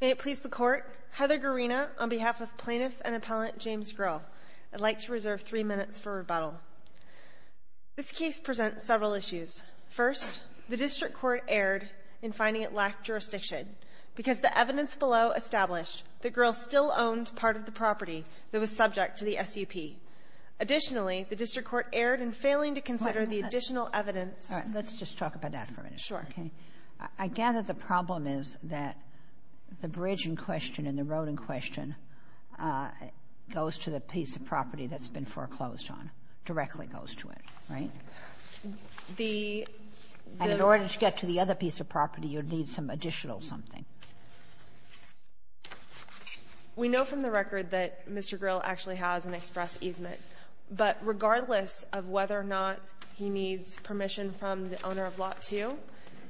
May it please the Court, Heather Gurina, on behalf of Plaintiff and Appellant James Grill, I'd like to reserve three minutes for rebuttal. This case presents several issues. First, the District Court erred in finding it lacked jurisdiction because the evidence below established that Grill still owned part of the property that was subject to the SUP. Additionally, the District Court erred in failing to consider the additional evidence to the case. Let's just talk about that for a minute. Sure. Okay. I gather the problem is that the bridge in question and the road in question goes to the piece of property that's been foreclosed on, directly goes to it, right? The the In order to get to the other piece of property, you'd need some additional something. We know from the record that Mr. Grill actually has an express easement, but regardless of whether or not he needs permission from the owner of Lot 2,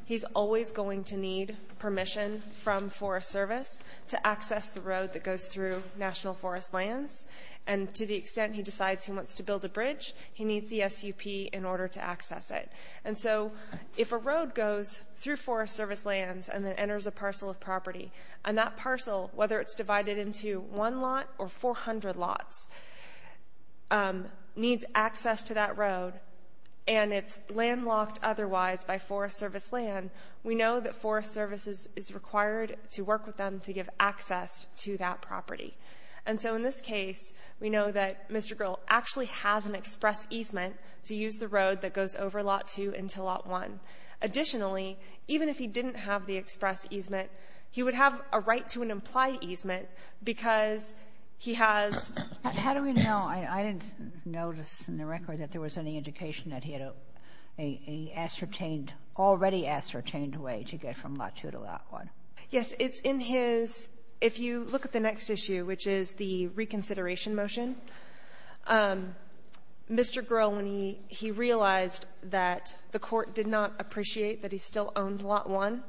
he's always going to need permission from Forest Service to access the road that goes through National Forest Lands. And to the extent he decides he wants to build a bridge, he needs the SUP in order to access it. And so if a road goes through Forest Service lands and then enters a parcel of property, and that parcel, whether it's divided into one lot or 400 lots, needs access to that road, and it's landlocked otherwise by Forest Service land, we know that Forest Service is required to work with them to give access to that property. And so in this case, we know that Mr. Grill actually has an express easement to use the road that goes over Lot 2 into Lot 1. Additionally, even if he didn't have the express easement, he would have a right to an implied easement because he has ---- Kagan. How do we know? I didn't notice in the record that there was any indication that he had a ascertained already ascertained way to get from Lot 2 to Lot 1. Yes. It's in his ---- if you look at the next issue, which is the reconsideration motion, Mr. Grill, when he realized that the court did not appreciate that he still owned Lot 1,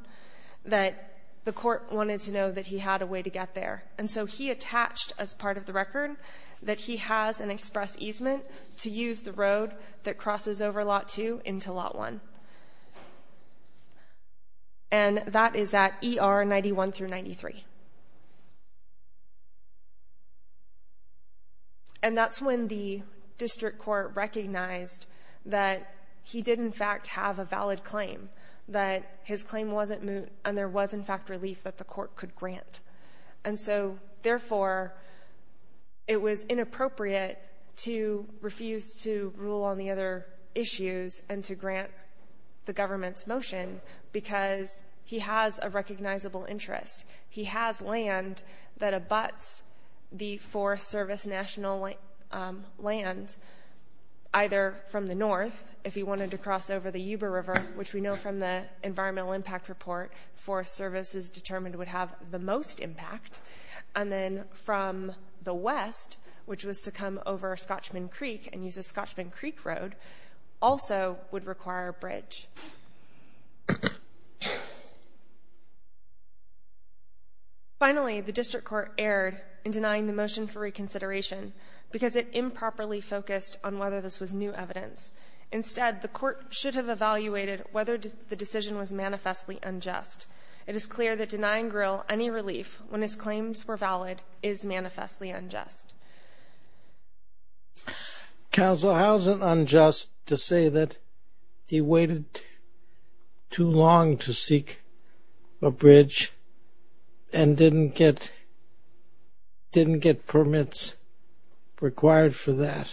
that the court wanted to know that he had a way to get there. And so he attached as part of the record that he has an express easement to use the road that crosses over Lot 2 into Lot 1. And that is at ER 91 through 93. And that's when the district court recognized that he did, in fact, have a valid claim, that his claim wasn't moot, and there was, in fact, relief that the court could grant. And so, therefore, it was inappropriate to refuse to rule on the other issues and to grant the government's motion because he has a recognizable interest. He has land that abuts the Forest Service national land either from the north, if he wanted to cross over the Yuba River, which we know from the environmental impact report Forest Service is determined would have the most impact, and then from the west, which was to come over Scotchman Creek and use the Scotchman Creek Road, also would require a bridge. Finally, the district court erred in denying the motion for reconsideration because it improperly focused on whether this was new evidence. Instead, the court should have evaluated whether the decision was manifestly unjust. It is clear that denying Grill any relief when his claims were valid is manifestly unjust. Counsel, how is it unjust to say that he waited too long to seek a bridge and didn't get permits required for that?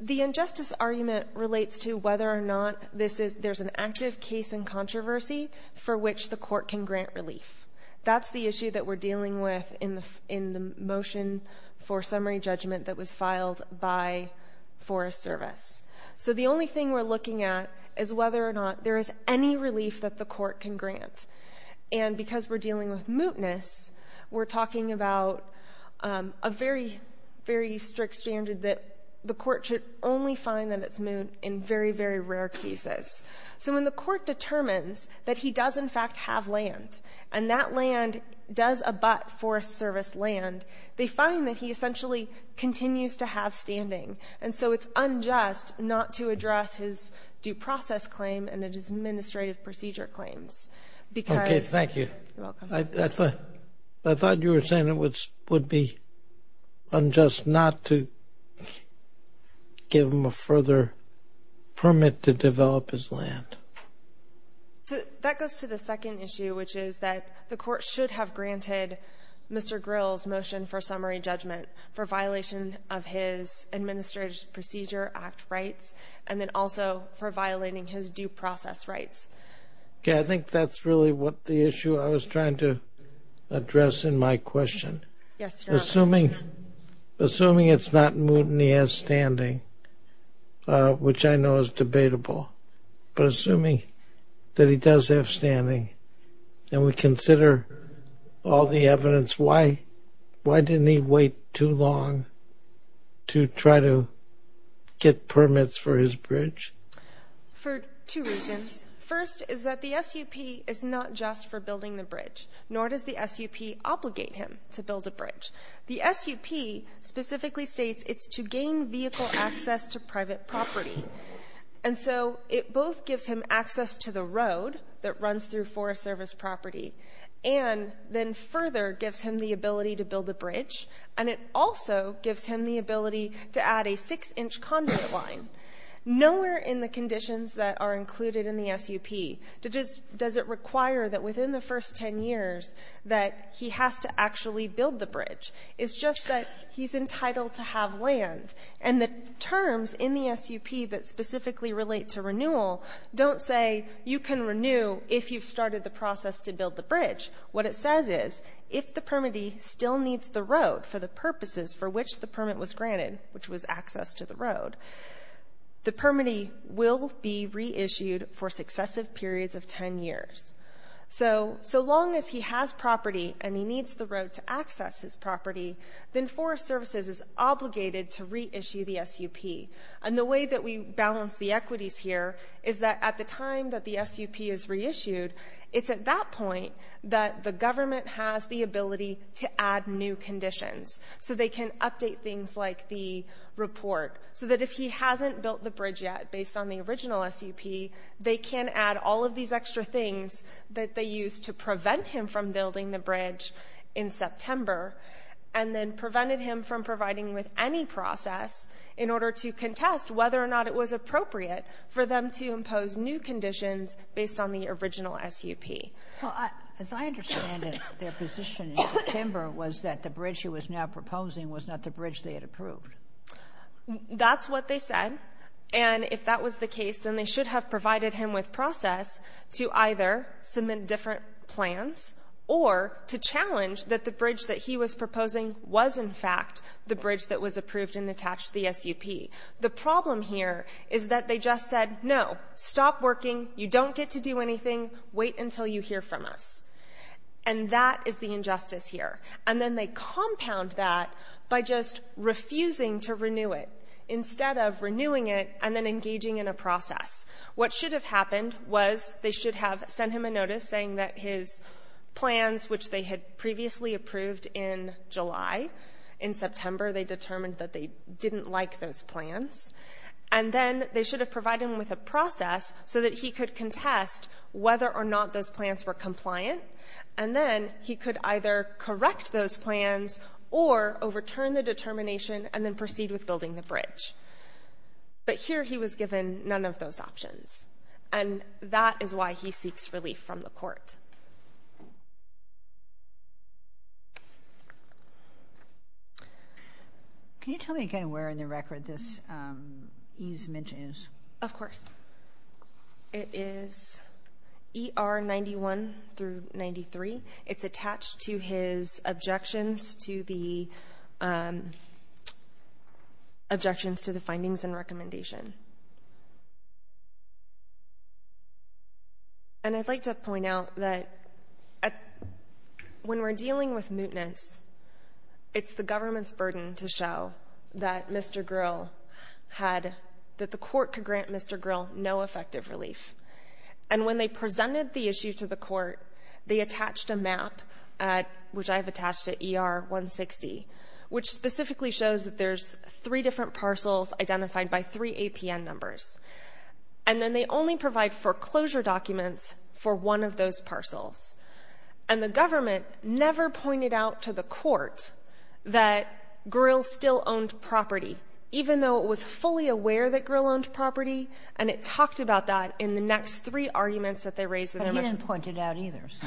The injustice argument relates to whether or not there's an active case in controversy for which the court can grant relief. That's the issue that we're dealing with in the motion for summary judgment that was filed by Forest Service. So the only thing we're looking at is whether or not there is any relief that the court can grant. And because we're dealing with mootness, we're talking about a very, very strict standard that the court should only find that it's moot in very, very rare cases. So when the court determines that he does, in fact, have land, and that land does abut Forest Service land, they find that he essentially continues to have standing. And so it's unjust not to address his due process claim and his administrative procedure claims. Thank you. You're welcome. I thought you were saying it would be unjust not to give him a further permit to develop his land. That goes to the second issue, which is that the court should have granted Mr. Grill's motion for summary judgment for violation of his Administrative Procedure Act rights and then also for violating his due process rights. Okay. I think that's really what the issue I was trying to address in my question. Yes, Your Honor. Assuming it's not moot and he has standing, which I know is debatable, but assuming that he does have standing and we consider all the evidence, why didn't he wait too long to try to get permits for his bridge? For two reasons. First is that the SUP is not just for building the bridge, nor does the SUP obligate him to build a bridge. The SUP specifically states it's to gain vehicle access to private property. And so it both gives him access to the road that runs through Forest Service property and then further gives him the ability to build a bridge, and it also gives him the ability to add a 6-inch conduit line. Nowhere in the conditions that are included in the SUP does it require that within the first 10 years that he has to actually build the bridge. It's just that he's entitled to have land. And the terms in the SUP that specifically relate to renewal don't say you can renew if you've started the process to build the bridge. What it says is if the permittee still needs the road for the purposes for which the permit was granted, which was access to the road, the permittee will be reissued for successive periods of 10 years. So, so long as he has property and he needs the road to access his property, then Forest Services is obligated to reissue the SUP. And the way that we balance the equities here is that at the time that the SUP is reissued, it's at that point that the government has the ability to add new conditions. So they can update things like the report. So that if he hasn't built the bridge yet based on the original SUP, they can add all these extra things that they used to prevent him from building the bridge in September and then prevented him from providing with any process in order to contest whether or not it was appropriate for them to impose new conditions based on the original SUP. Well, as I understand it, their position in September was that the bridge he was now proposing was not the bridge they had approved. That's what they said. And if that was the case, then they should have provided him with process to either submit different plans or to challenge that the bridge that he was proposing was, in fact, the bridge that was approved and attached to the SUP. The problem here is that they just said, no, stop working. You don't get to do anything. Wait until you hear from us. And that is the injustice here. And then they compound that by just refusing to renew it. Instead of renewing it and then engaging in a process. What should have happened was they should have sent him a notice saying that his plans, which they had previously approved in July, in September they determined that they didn't like those plans. And then they should have provided him with a process so that he could contest whether or not those plans were compliant. And then he could either correct those plans or overturn the determination and then proceed with building the bridge. But here he was given none of those options. And that is why he seeks relief from the court. Can you tell me again where in the record this E's mention is? Of course. It is ER 91 through 93. It's attached to his objections to the findings and recommendation. And I'd like to point out that when we're dealing with mootness, it's the government's burden to show that Mr. Gryll had, that the court could grant Mr. Gryll no effective relief. And when they presented the issue to the court, they attached a map, which I have attached to ER 160, which specifically shows that there's three different parcels identified by three APN numbers. And then they only provide foreclosure documents for one of those parcels. And the government never pointed out to the court that Gryll still owned property, even though it was fully aware that Gryll owned property, and it talked about that in the next three arguments that they raised in their motion. But he didn't point it out either, so.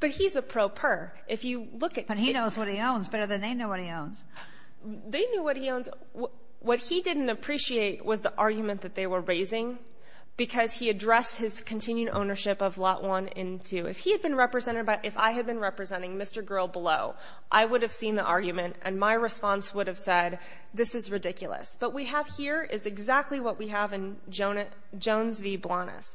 But he's a pro per. If you look at the ---- But he knows what he owns better than they know what he owns. They knew what he owns. What he didn't appreciate was the argument that they were raising, because he addressed his continued ownership of Lot 1 and 2. If he had been represented by — if I had been representing Mr. Gryll below, I would have seen the argument, and my response would have said, this is ridiculous. What we have here is exactly what we have in Jones v. Blanas,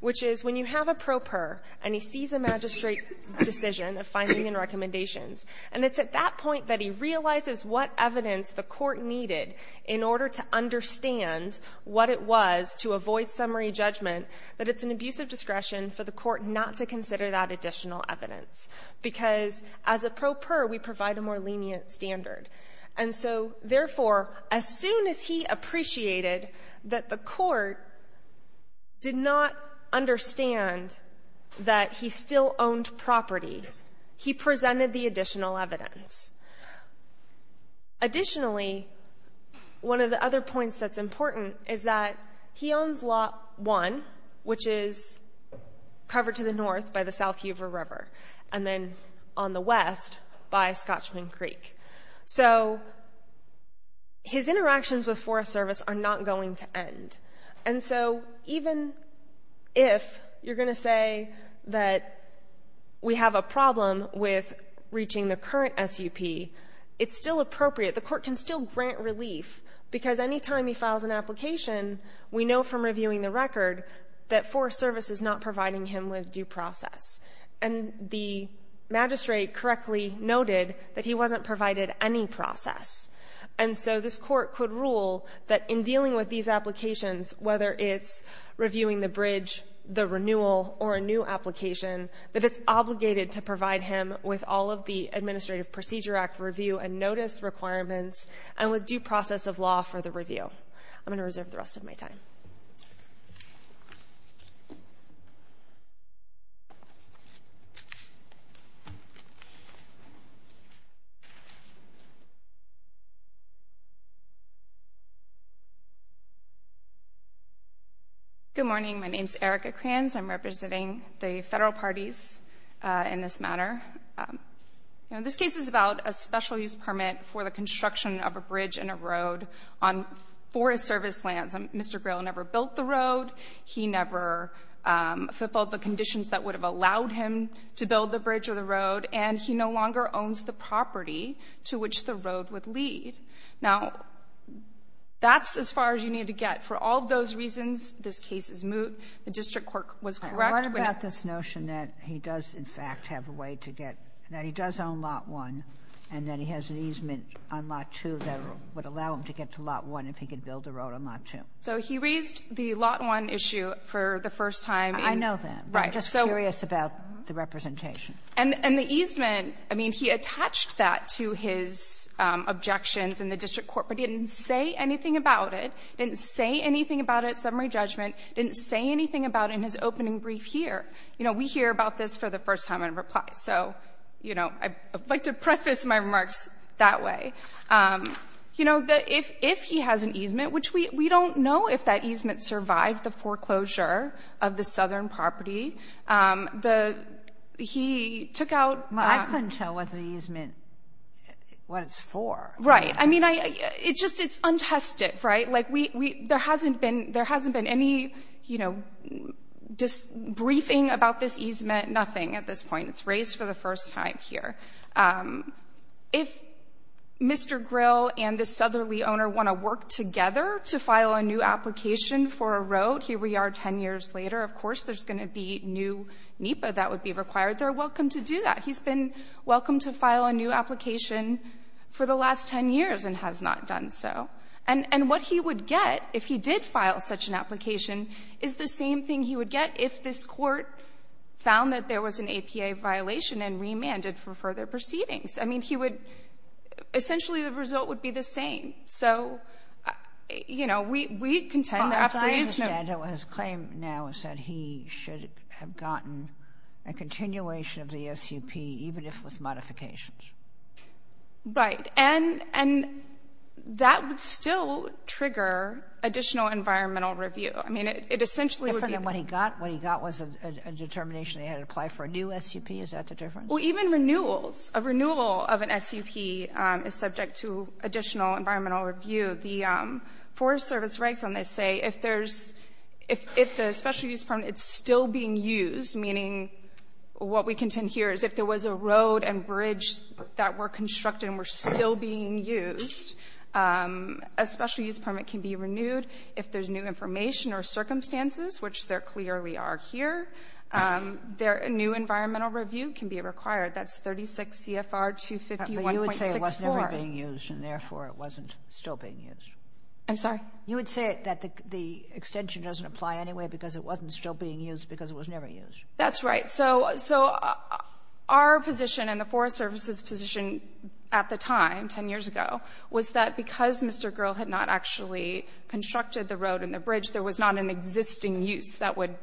which is when you have a pro per and he sees a magistrate decision, a finding and recommendations, and it's at that point that he realizes what evidence the court needed in order to understand what it was to avoid summary judgment, that it's an abuse of discretion for the court not to consider that additional evidence, because as a pro per, we provide a more lenient standard. And so, therefore, as soon as he appreciated that the court did not understand that he still owned property, he presented the additional evidence. Additionally, one of the other points that's important is that he owns Lot 1, which is covered to the north by the South Hoover River, and then on the west by Scotchman Creek. So his interactions with Forest Service are not going to end. And so even if you're going to say that we have a problem with reaching the current SUP, it's still appropriate. The court can still grant relief, because any time he files an application, we know from reviewing the record that Forest Service is not providing him with due process. And the magistrate correctly noted that he wasn't provided any process. And so this court could rule that in dealing with these applications, whether it's reviewing the bridge, the renewal, or a new application, that it's obligated to provide him with all of the Administrative Procedure Act review and notice requirements and with due process of law for the review. I'm going to reserve the rest of my time. Thank you. Good morning. My name is Erica Kranz. I'm representing the Federal Parties in this matter. This case is about a special use permit for the construction of a bridge and a road on Forest Service lands. Mr. Grail never built the road. He never fulfilled the conditions that would have allowed him to build the bridge or the road. And he no longer owns the property to which the road would lead. Now, that's as far as you need to get. For all of those reasons, this case is moot. The district court was correct when it was not. Sotomayor, what about this notion that he does, in fact, have a way to get to get that he does own Lot 1 and that he has an easement on Lot 2 that would allow him to get to Lot 1 if he could build a road on Lot 2? So he raised the Lot 1 issue for the first time. I know that. Right. I'm just curious about the representation. And the easement, I mean, he attached that to his objections in the district court, but he didn't say anything about it, didn't say anything about it at summary judgment, didn't say anything about it in his opening brief here. You know, we hear about this for the first time in reply. So, you know, I'd like to preface my remarks that way. You know, if he has an easement, which we don't know if that easement survived the foreclosure of the southern property, the he took out the ---- Well, I couldn't tell what the easement, what it's for. Right. I mean, it's just it's untested, right? Like, there hasn't been any, you know, just briefing about this easement, nothing at this point. It's raised for the first time here. If Mr. Grill and the southerly owner want to work together to file a new application for a road, here we are 10 years later, of course, there's going to be new NEPA that would be required. They're welcome to do that. He's been welcome to file a new application for the last 10 years and has not done so. And what he would get if he did file such an application is the same thing he would get if this Court found that there was an APA violation and remanded for further proceedings. I mean, he would ---- essentially, the result would be the same. So, you know, we contend there absolutely is no ---- Well, as I understand it, what his claim now is that he should have gotten a continuation of the SUP, even if with modifications. Right. And that would still trigger additional environmental review. I mean, it essentially would be ---- What he got was a determination that he had to apply for a new SUP. Is that the difference? Well, even renewals. A renewal of an SUP is subject to additional environmental review. The Forest Service regs on this say if there's ---- if the special use permit is still being used, meaning what we contend here is if there was a road and bridge that were constructed and were still being used, a special use permit can be renewed if there's new information or circumstances, which there clearly are here. There new environmental review can be required. That's 36 CFR 251.64. But you would say it was never being used, and therefore it wasn't still being used. I'm sorry? You would say that the extension doesn't apply anyway because it wasn't still being used because it was never used. That's right. So our position and the Forest Service's position at the time, 10 years ago, was that because Mr. Gurl had not actually constructed the road and the bridge, there was not an existing use that would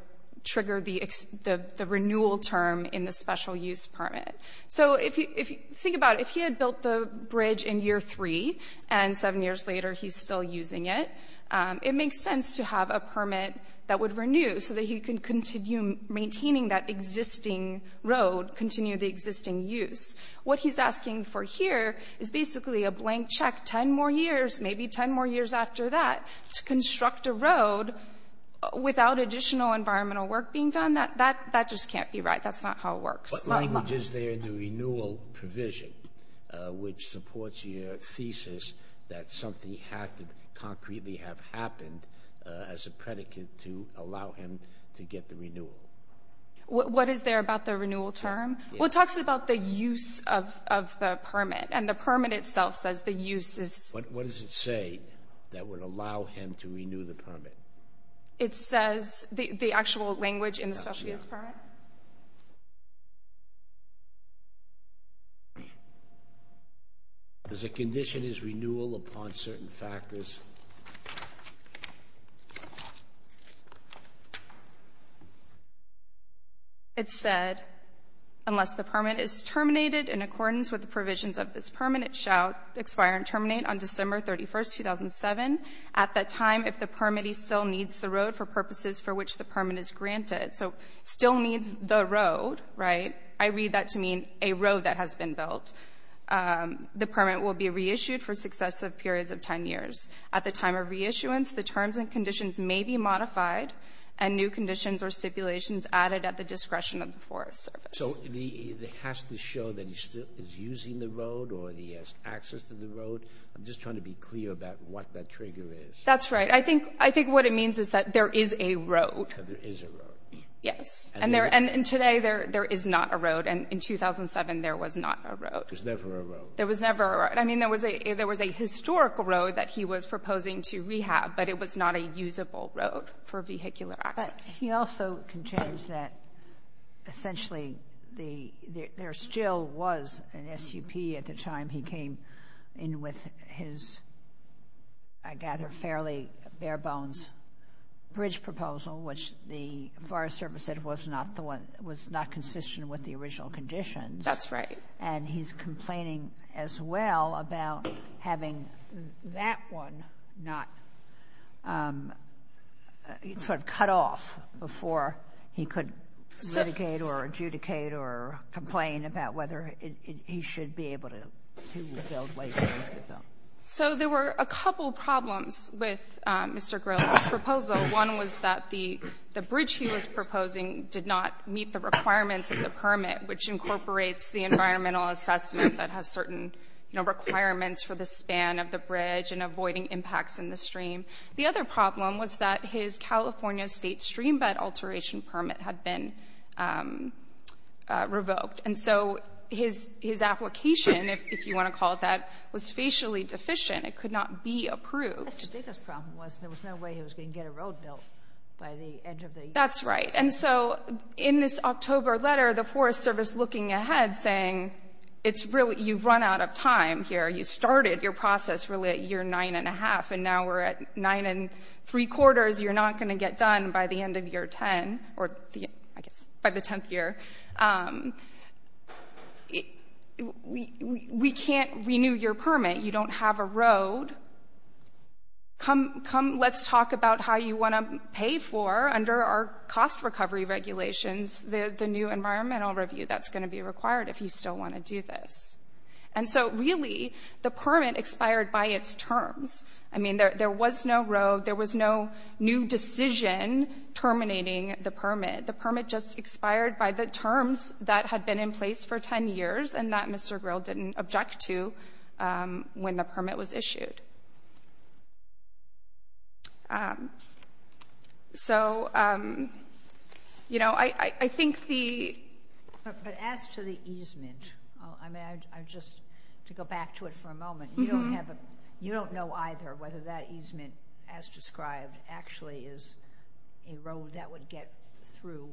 trigger the renewal term in the special use permit. So if you think about it, if he had built the bridge in year three and seven years later he's still using it, it makes sense to have a permit that would renew so that he could continue maintaining that existing road, continue the existing use. What he's asking for here is basically a blank check 10 more years, maybe 10 more years after that, to construct a road without additional environmental work being done. That just can't be right. That's not how it works. What language is there in the renewal provision which supports your thesis that something had to concretely have happened as a predicate to allow him to get the renewal? What is there about the renewal term? Well, it talks about the use of the permit. And the permit itself says the use is What does it say that would allow him to renew the permit? It says the actual language in the special use permit. Does it condition his renewal upon certain factors? It said, unless the permit is terminated in accordance with the provisions of this permit, it shall expire and terminate on December 31st, 2007, at that time if the permittee still needs the road for purposes for which the permit is granted. So still needs the road, right? I read that to mean a road that has been built. The permit will be reissued for successive periods of 10 years. At the time of reissuance, the terms and conditions may be modified and new conditions or stipulations added at the discretion of the Forest Service. So it has to show that he still is using the road or that he has access to the road? I'm just trying to be clear about what that trigger is. That's right. I think what it means is that there is a road. There is a road. Yes. And today there is not a road. And in 2007, there was not a road. There's never a road. There was never a road. I mean, there was a historical road that he was proposing to rehab, but it was not a usable road for vehicular access. But he also contends that essentially there still was an SUP at the time he came in with his, I gather, fairly bare-bones bridge proposal, which the Forest Service said was not the one, was not consistent with the original proposal. And he's complaining as well about having that one not sort of cut off before he could litigate or adjudicate or complain about whether he should be able to build ways for this to be built. So there were a couple problems with Mr. Grill's proposal. One was that the bridge he was proposing did not meet the requirements of the permit, which incorporates the environmental assessment that has certain, you know, requirements for the span of the bridge and avoiding impacts in the stream. The other problem was that his California State streambed alteration permit had been revoked. And so his application, if you want to call it that, was facially deficient. It could not be approved. Yes, the biggest problem was there was no way he was going to get a road built by the end of the year. That's right. And so in this October letter, the Forest Service looking ahead, saying it's really, you've run out of time here. You started your process really at year nine and a half, and now we're at nine and three quarters. You're not going to get done by the end of year 10 or, I guess, by the 10th year. We can't renew your permit. You don't have a road. Come, let's talk about how you want to pay for, under our cost recovery regulations, the new environmental review that's going to be required if you still want to do this. And so, really, the permit expired by its terms. I mean, there was no road. There was no new decision terminating the permit. The permit just expired by the terms that had been in place for 10 years and that Mr. So, you know, I think the... But as to the easement, I mean, I just, to go back to it for a moment, you don't have a, you don't know either whether that easement as described actually is a road that would get through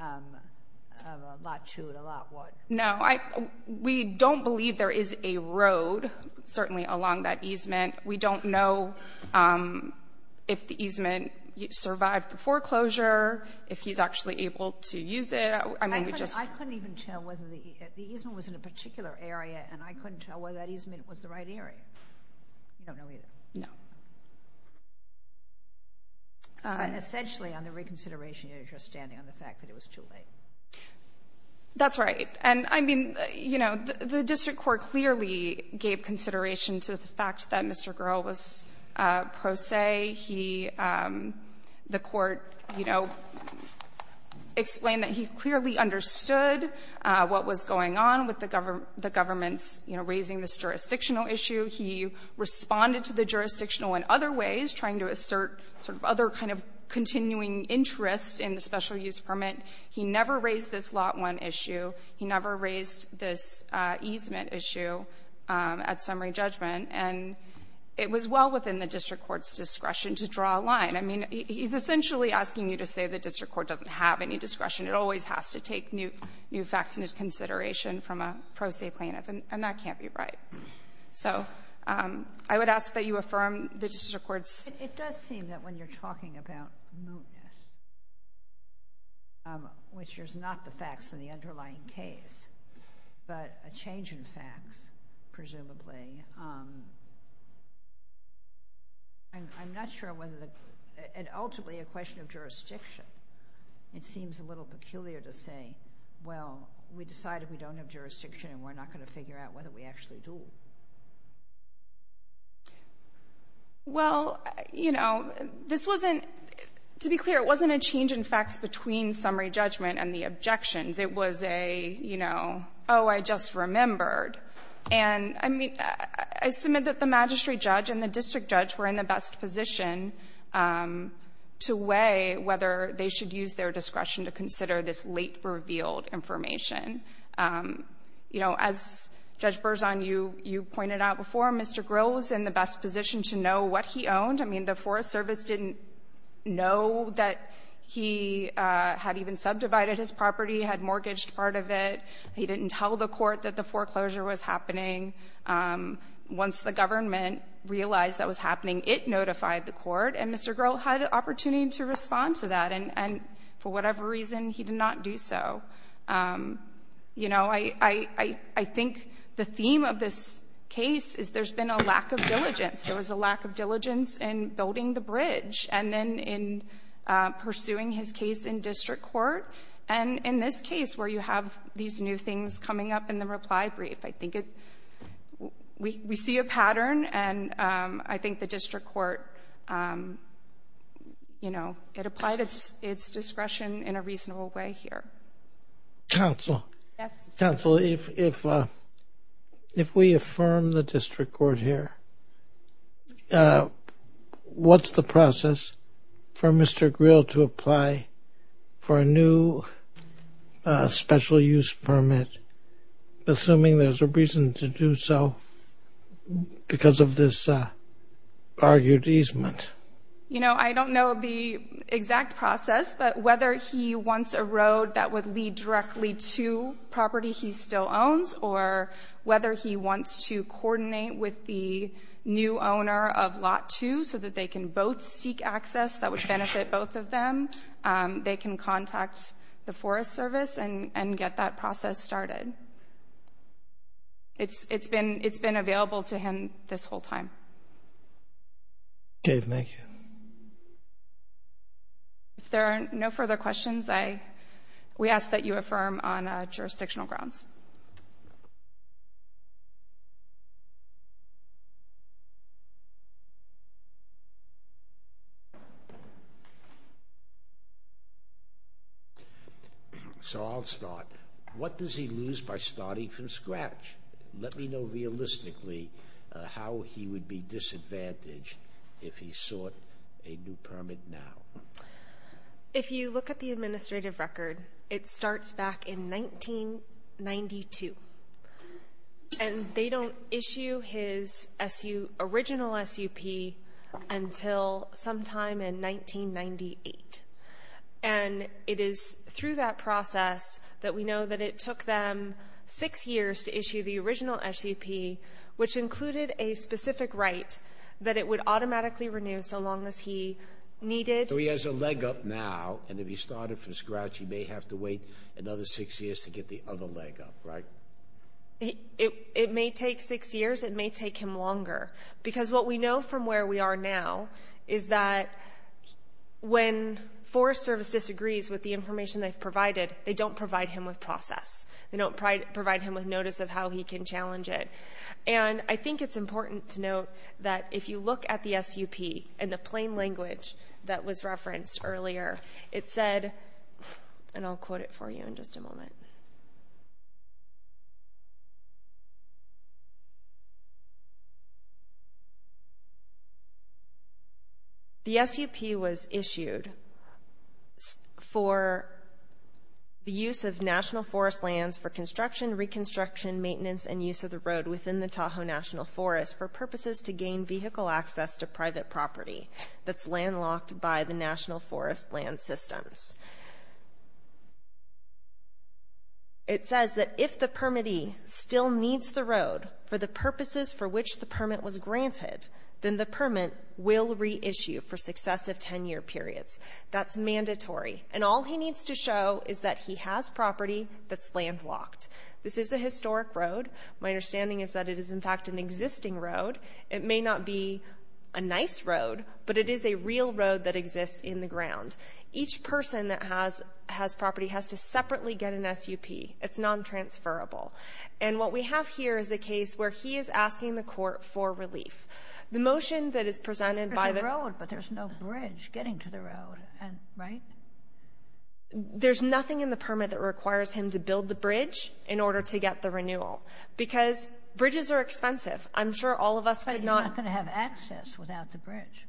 a lot to and a lot would. No, we don't believe there is a road, certainly, along that easement. We don't know if the easement survived the foreclosure, if he's actually able to use it. I mean, we just... I couldn't even tell whether the easement was in a particular area, and I couldn't tell whether that easement was the right area. You don't know either? No. Essentially, on the reconsideration, you're just standing on the fact that it was too late. That's right. And, I mean, you know, the district court clearly gave consideration to the fact that Mr. Grohl was pro se. He, the court, you know, explained that he clearly understood what was going on with the government's, you know, raising this jurisdictional issue. He responded to the jurisdictional in other ways, trying to assert sort of other kind of continuing interest in the special use permit. He never raised this Lot 1 issue. He never raised this easement issue at summary judgment. And it was well within the district court's discretion to draw a line. I mean, he's essentially asking you to say the district court doesn't have any discretion. It always has to take new facts into consideration from a pro se plaintiff, and that can't be right. So I would ask that you affirm the district court's... Um, which is not the facts in the underlying case, but a change in facts, presumably. Um, and I'm not sure whether the, and ultimately a question of jurisdiction, it seems a little peculiar to say, well, we decided we don't have jurisdiction and we're not going to figure out whether we actually do. Well, you know, this wasn't, to be clear, it wasn't a change in facts between summary judgment and the objections. It was a, you know, oh, I just remembered. And I mean, I submit that the magistrate judge and the district judge were in the best position, um, to weigh whether they should use their discretion to consider this late revealed information. Um, you know, as Judge Berzon, you, you pointed out before, Mr. Grill was in the best position to know what he owned. I mean, the Forest Service didn't know that he, uh, had even subdivided his property, had mortgaged part of it. He didn't tell the court that the foreclosure was happening. Um, once the government realized that was happening, it notified the court, and Mr. Grill, for whatever reason, he did not do so. Um, you know, I, I, I think the theme of this case is there's been a lack of diligence. There was a lack of diligence in building the bridge and then in, uh, pursuing his case in district court. And in this case where you have these new things coming up in the reply brief, I think it, we, we see a pattern, and, um, I think the district court, um, you know, it applied its, its discretion in a reasonable way here. Counsel. Yes. Counsel, if, if, uh, if we affirm the district court here, uh, what's the process for Mr. Grill to apply for a new, uh, special use permit, assuming there's a reason to do so because of this, uh, argued easement? You know, I don't know the exact process, but whether he wants a road that would lead directly to property he still owns or whether he wants to coordinate with the new owner of lot two so that they can both seek access that would benefit both of them, um, they can contact the Forest Service and, and get that process started. It's, it's been, it's been available to him this whole time. Dave, thank you. If there are no further questions, I, we ask that you affirm on, uh, jurisdictional grounds. So I'll start. What does he lose by starting from scratch? Let me know realistically, uh, how he would be disadvantaged if he sought a new permit now. If you look at the administrative record, it starts back in 1992 and they don't issue his SU, original SUP until sometime in 1998. And it is through that process that we know that it took them six years to issue the original SUP, which included a specific right that it would automatically renew so long as he needed. So he has a leg up now and if he started from scratch, he may have to wait another six years to get the other leg up, right? It, it, it may take six years. It may take him longer. Because what we know from where we are now is that when Forest Service disagrees with the information they've provided, they don't provide him with process. They don't provide him with notice of how he can challenge it. And I think it's important to note that if you look at the SUP and the plain language that was referenced earlier, it said, and I'll quote it for you in just a moment. The SUP was issued for the use of national forest lands for construction, reconstruction, maintenance, and use of the road within the Tahoe National Forest for purposes to gain vehicle access to private property that's landlocked by the National Forest Land Systems. It says that if the permittee still needs the road for the purposes for which the permit was granted, then the permit will reissue for successive 10-year periods. That's mandatory. And all he needs to show is that he has property that's landlocked. This is a historic road. My understanding is that it is, in fact, an existing road. It may not be a nice road, but it is a real road that exists in the ground. Each person that has, has property has to separately get an SUP. It's non-transferable. And what we have here is a case where he is asking the Court for relief. The motion that is presented by the ---- Sotomayor, there's a road, but there's no bridge getting to the road, right? There's nothing in the permit that requires him to build the bridge in order to get the renewal, because bridges are expensive. I'm sure all of us could not ---- But he's not going to have access without the bridge.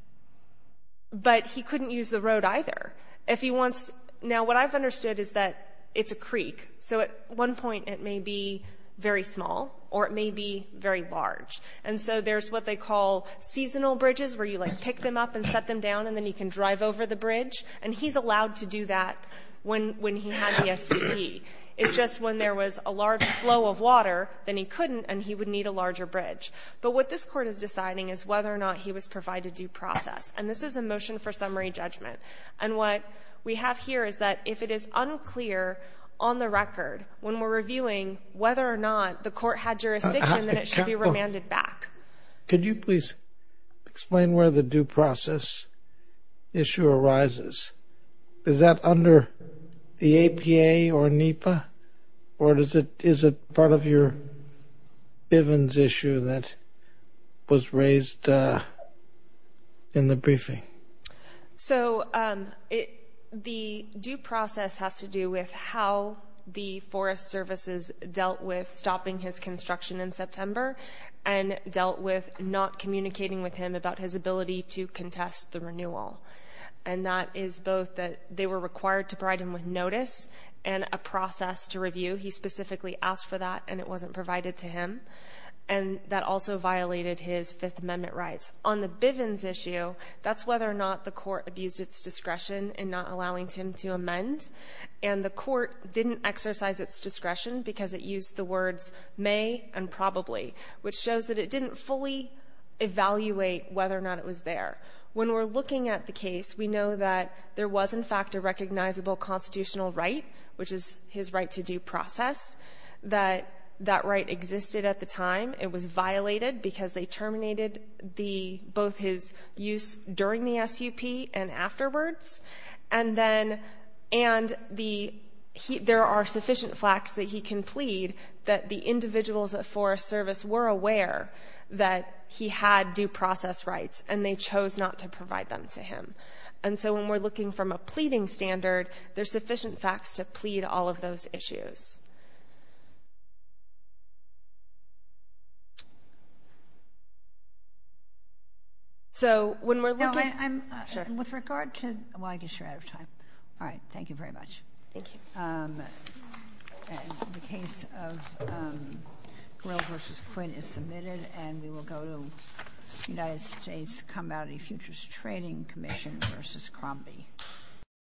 But he couldn't use the road either. If he wants to. Now, what I've understood is that it's a creek. So at one point, it may be very small or it may be very large. And so there's what they call seasonal bridges, where you, like, pick them up and set them down, and then he can drive over the bridge. And he's allowed to do that when he had the SUP. It's just when there was a large flow of water, then he couldn't and he would need a larger bridge. But what this Court is deciding is whether or not he was provided due process. And this is a motion for summary judgment. And what we have here is that if it is unclear on the record when we're reviewing whether or not the Court had jurisdiction, then it should be remanded back. Could you please explain where the due process issue arises? Is that under the APA or NEPA? Or is it part of your Bivens issue that was raised in the briefing? So the due process has to do with how the Forest Services dealt with stopping his construction in September and dealt with not communicating with him about his ability to contest the renewal. And that is both that they were required to provide him with notice and a process to review. He specifically asked for that, and it wasn't provided to him. And that also violated his Fifth Amendment rights. On the Bivens issue, that's whether or not the Court abused its discretion in not allowing him to amend. And the Court didn't exercise its discretion because it used the words may and probably, which shows that it didn't fully evaluate whether or not it was there. When we're looking at the case, we know that there was, in fact, a recognizable constitutional right, which is his right to due process, that that right existed at the time. It was violated because they terminated both his use during the SUP and afterwards. And there are sufficient facts that he can plead that the individuals at Forest Service were aware that he had due process rights, and they chose not to provide them to him. And so when we're looking from a pleading standard, there's sufficient facts to So when we're looking... No, I'm... Sure. With regard to... Well, I guess you're out of time. All right. Thank you very much. Thank you. The case of Grill v. Quinn is submitted, and we will go to the United States Combatant Futures Trading Commission v. Crombie.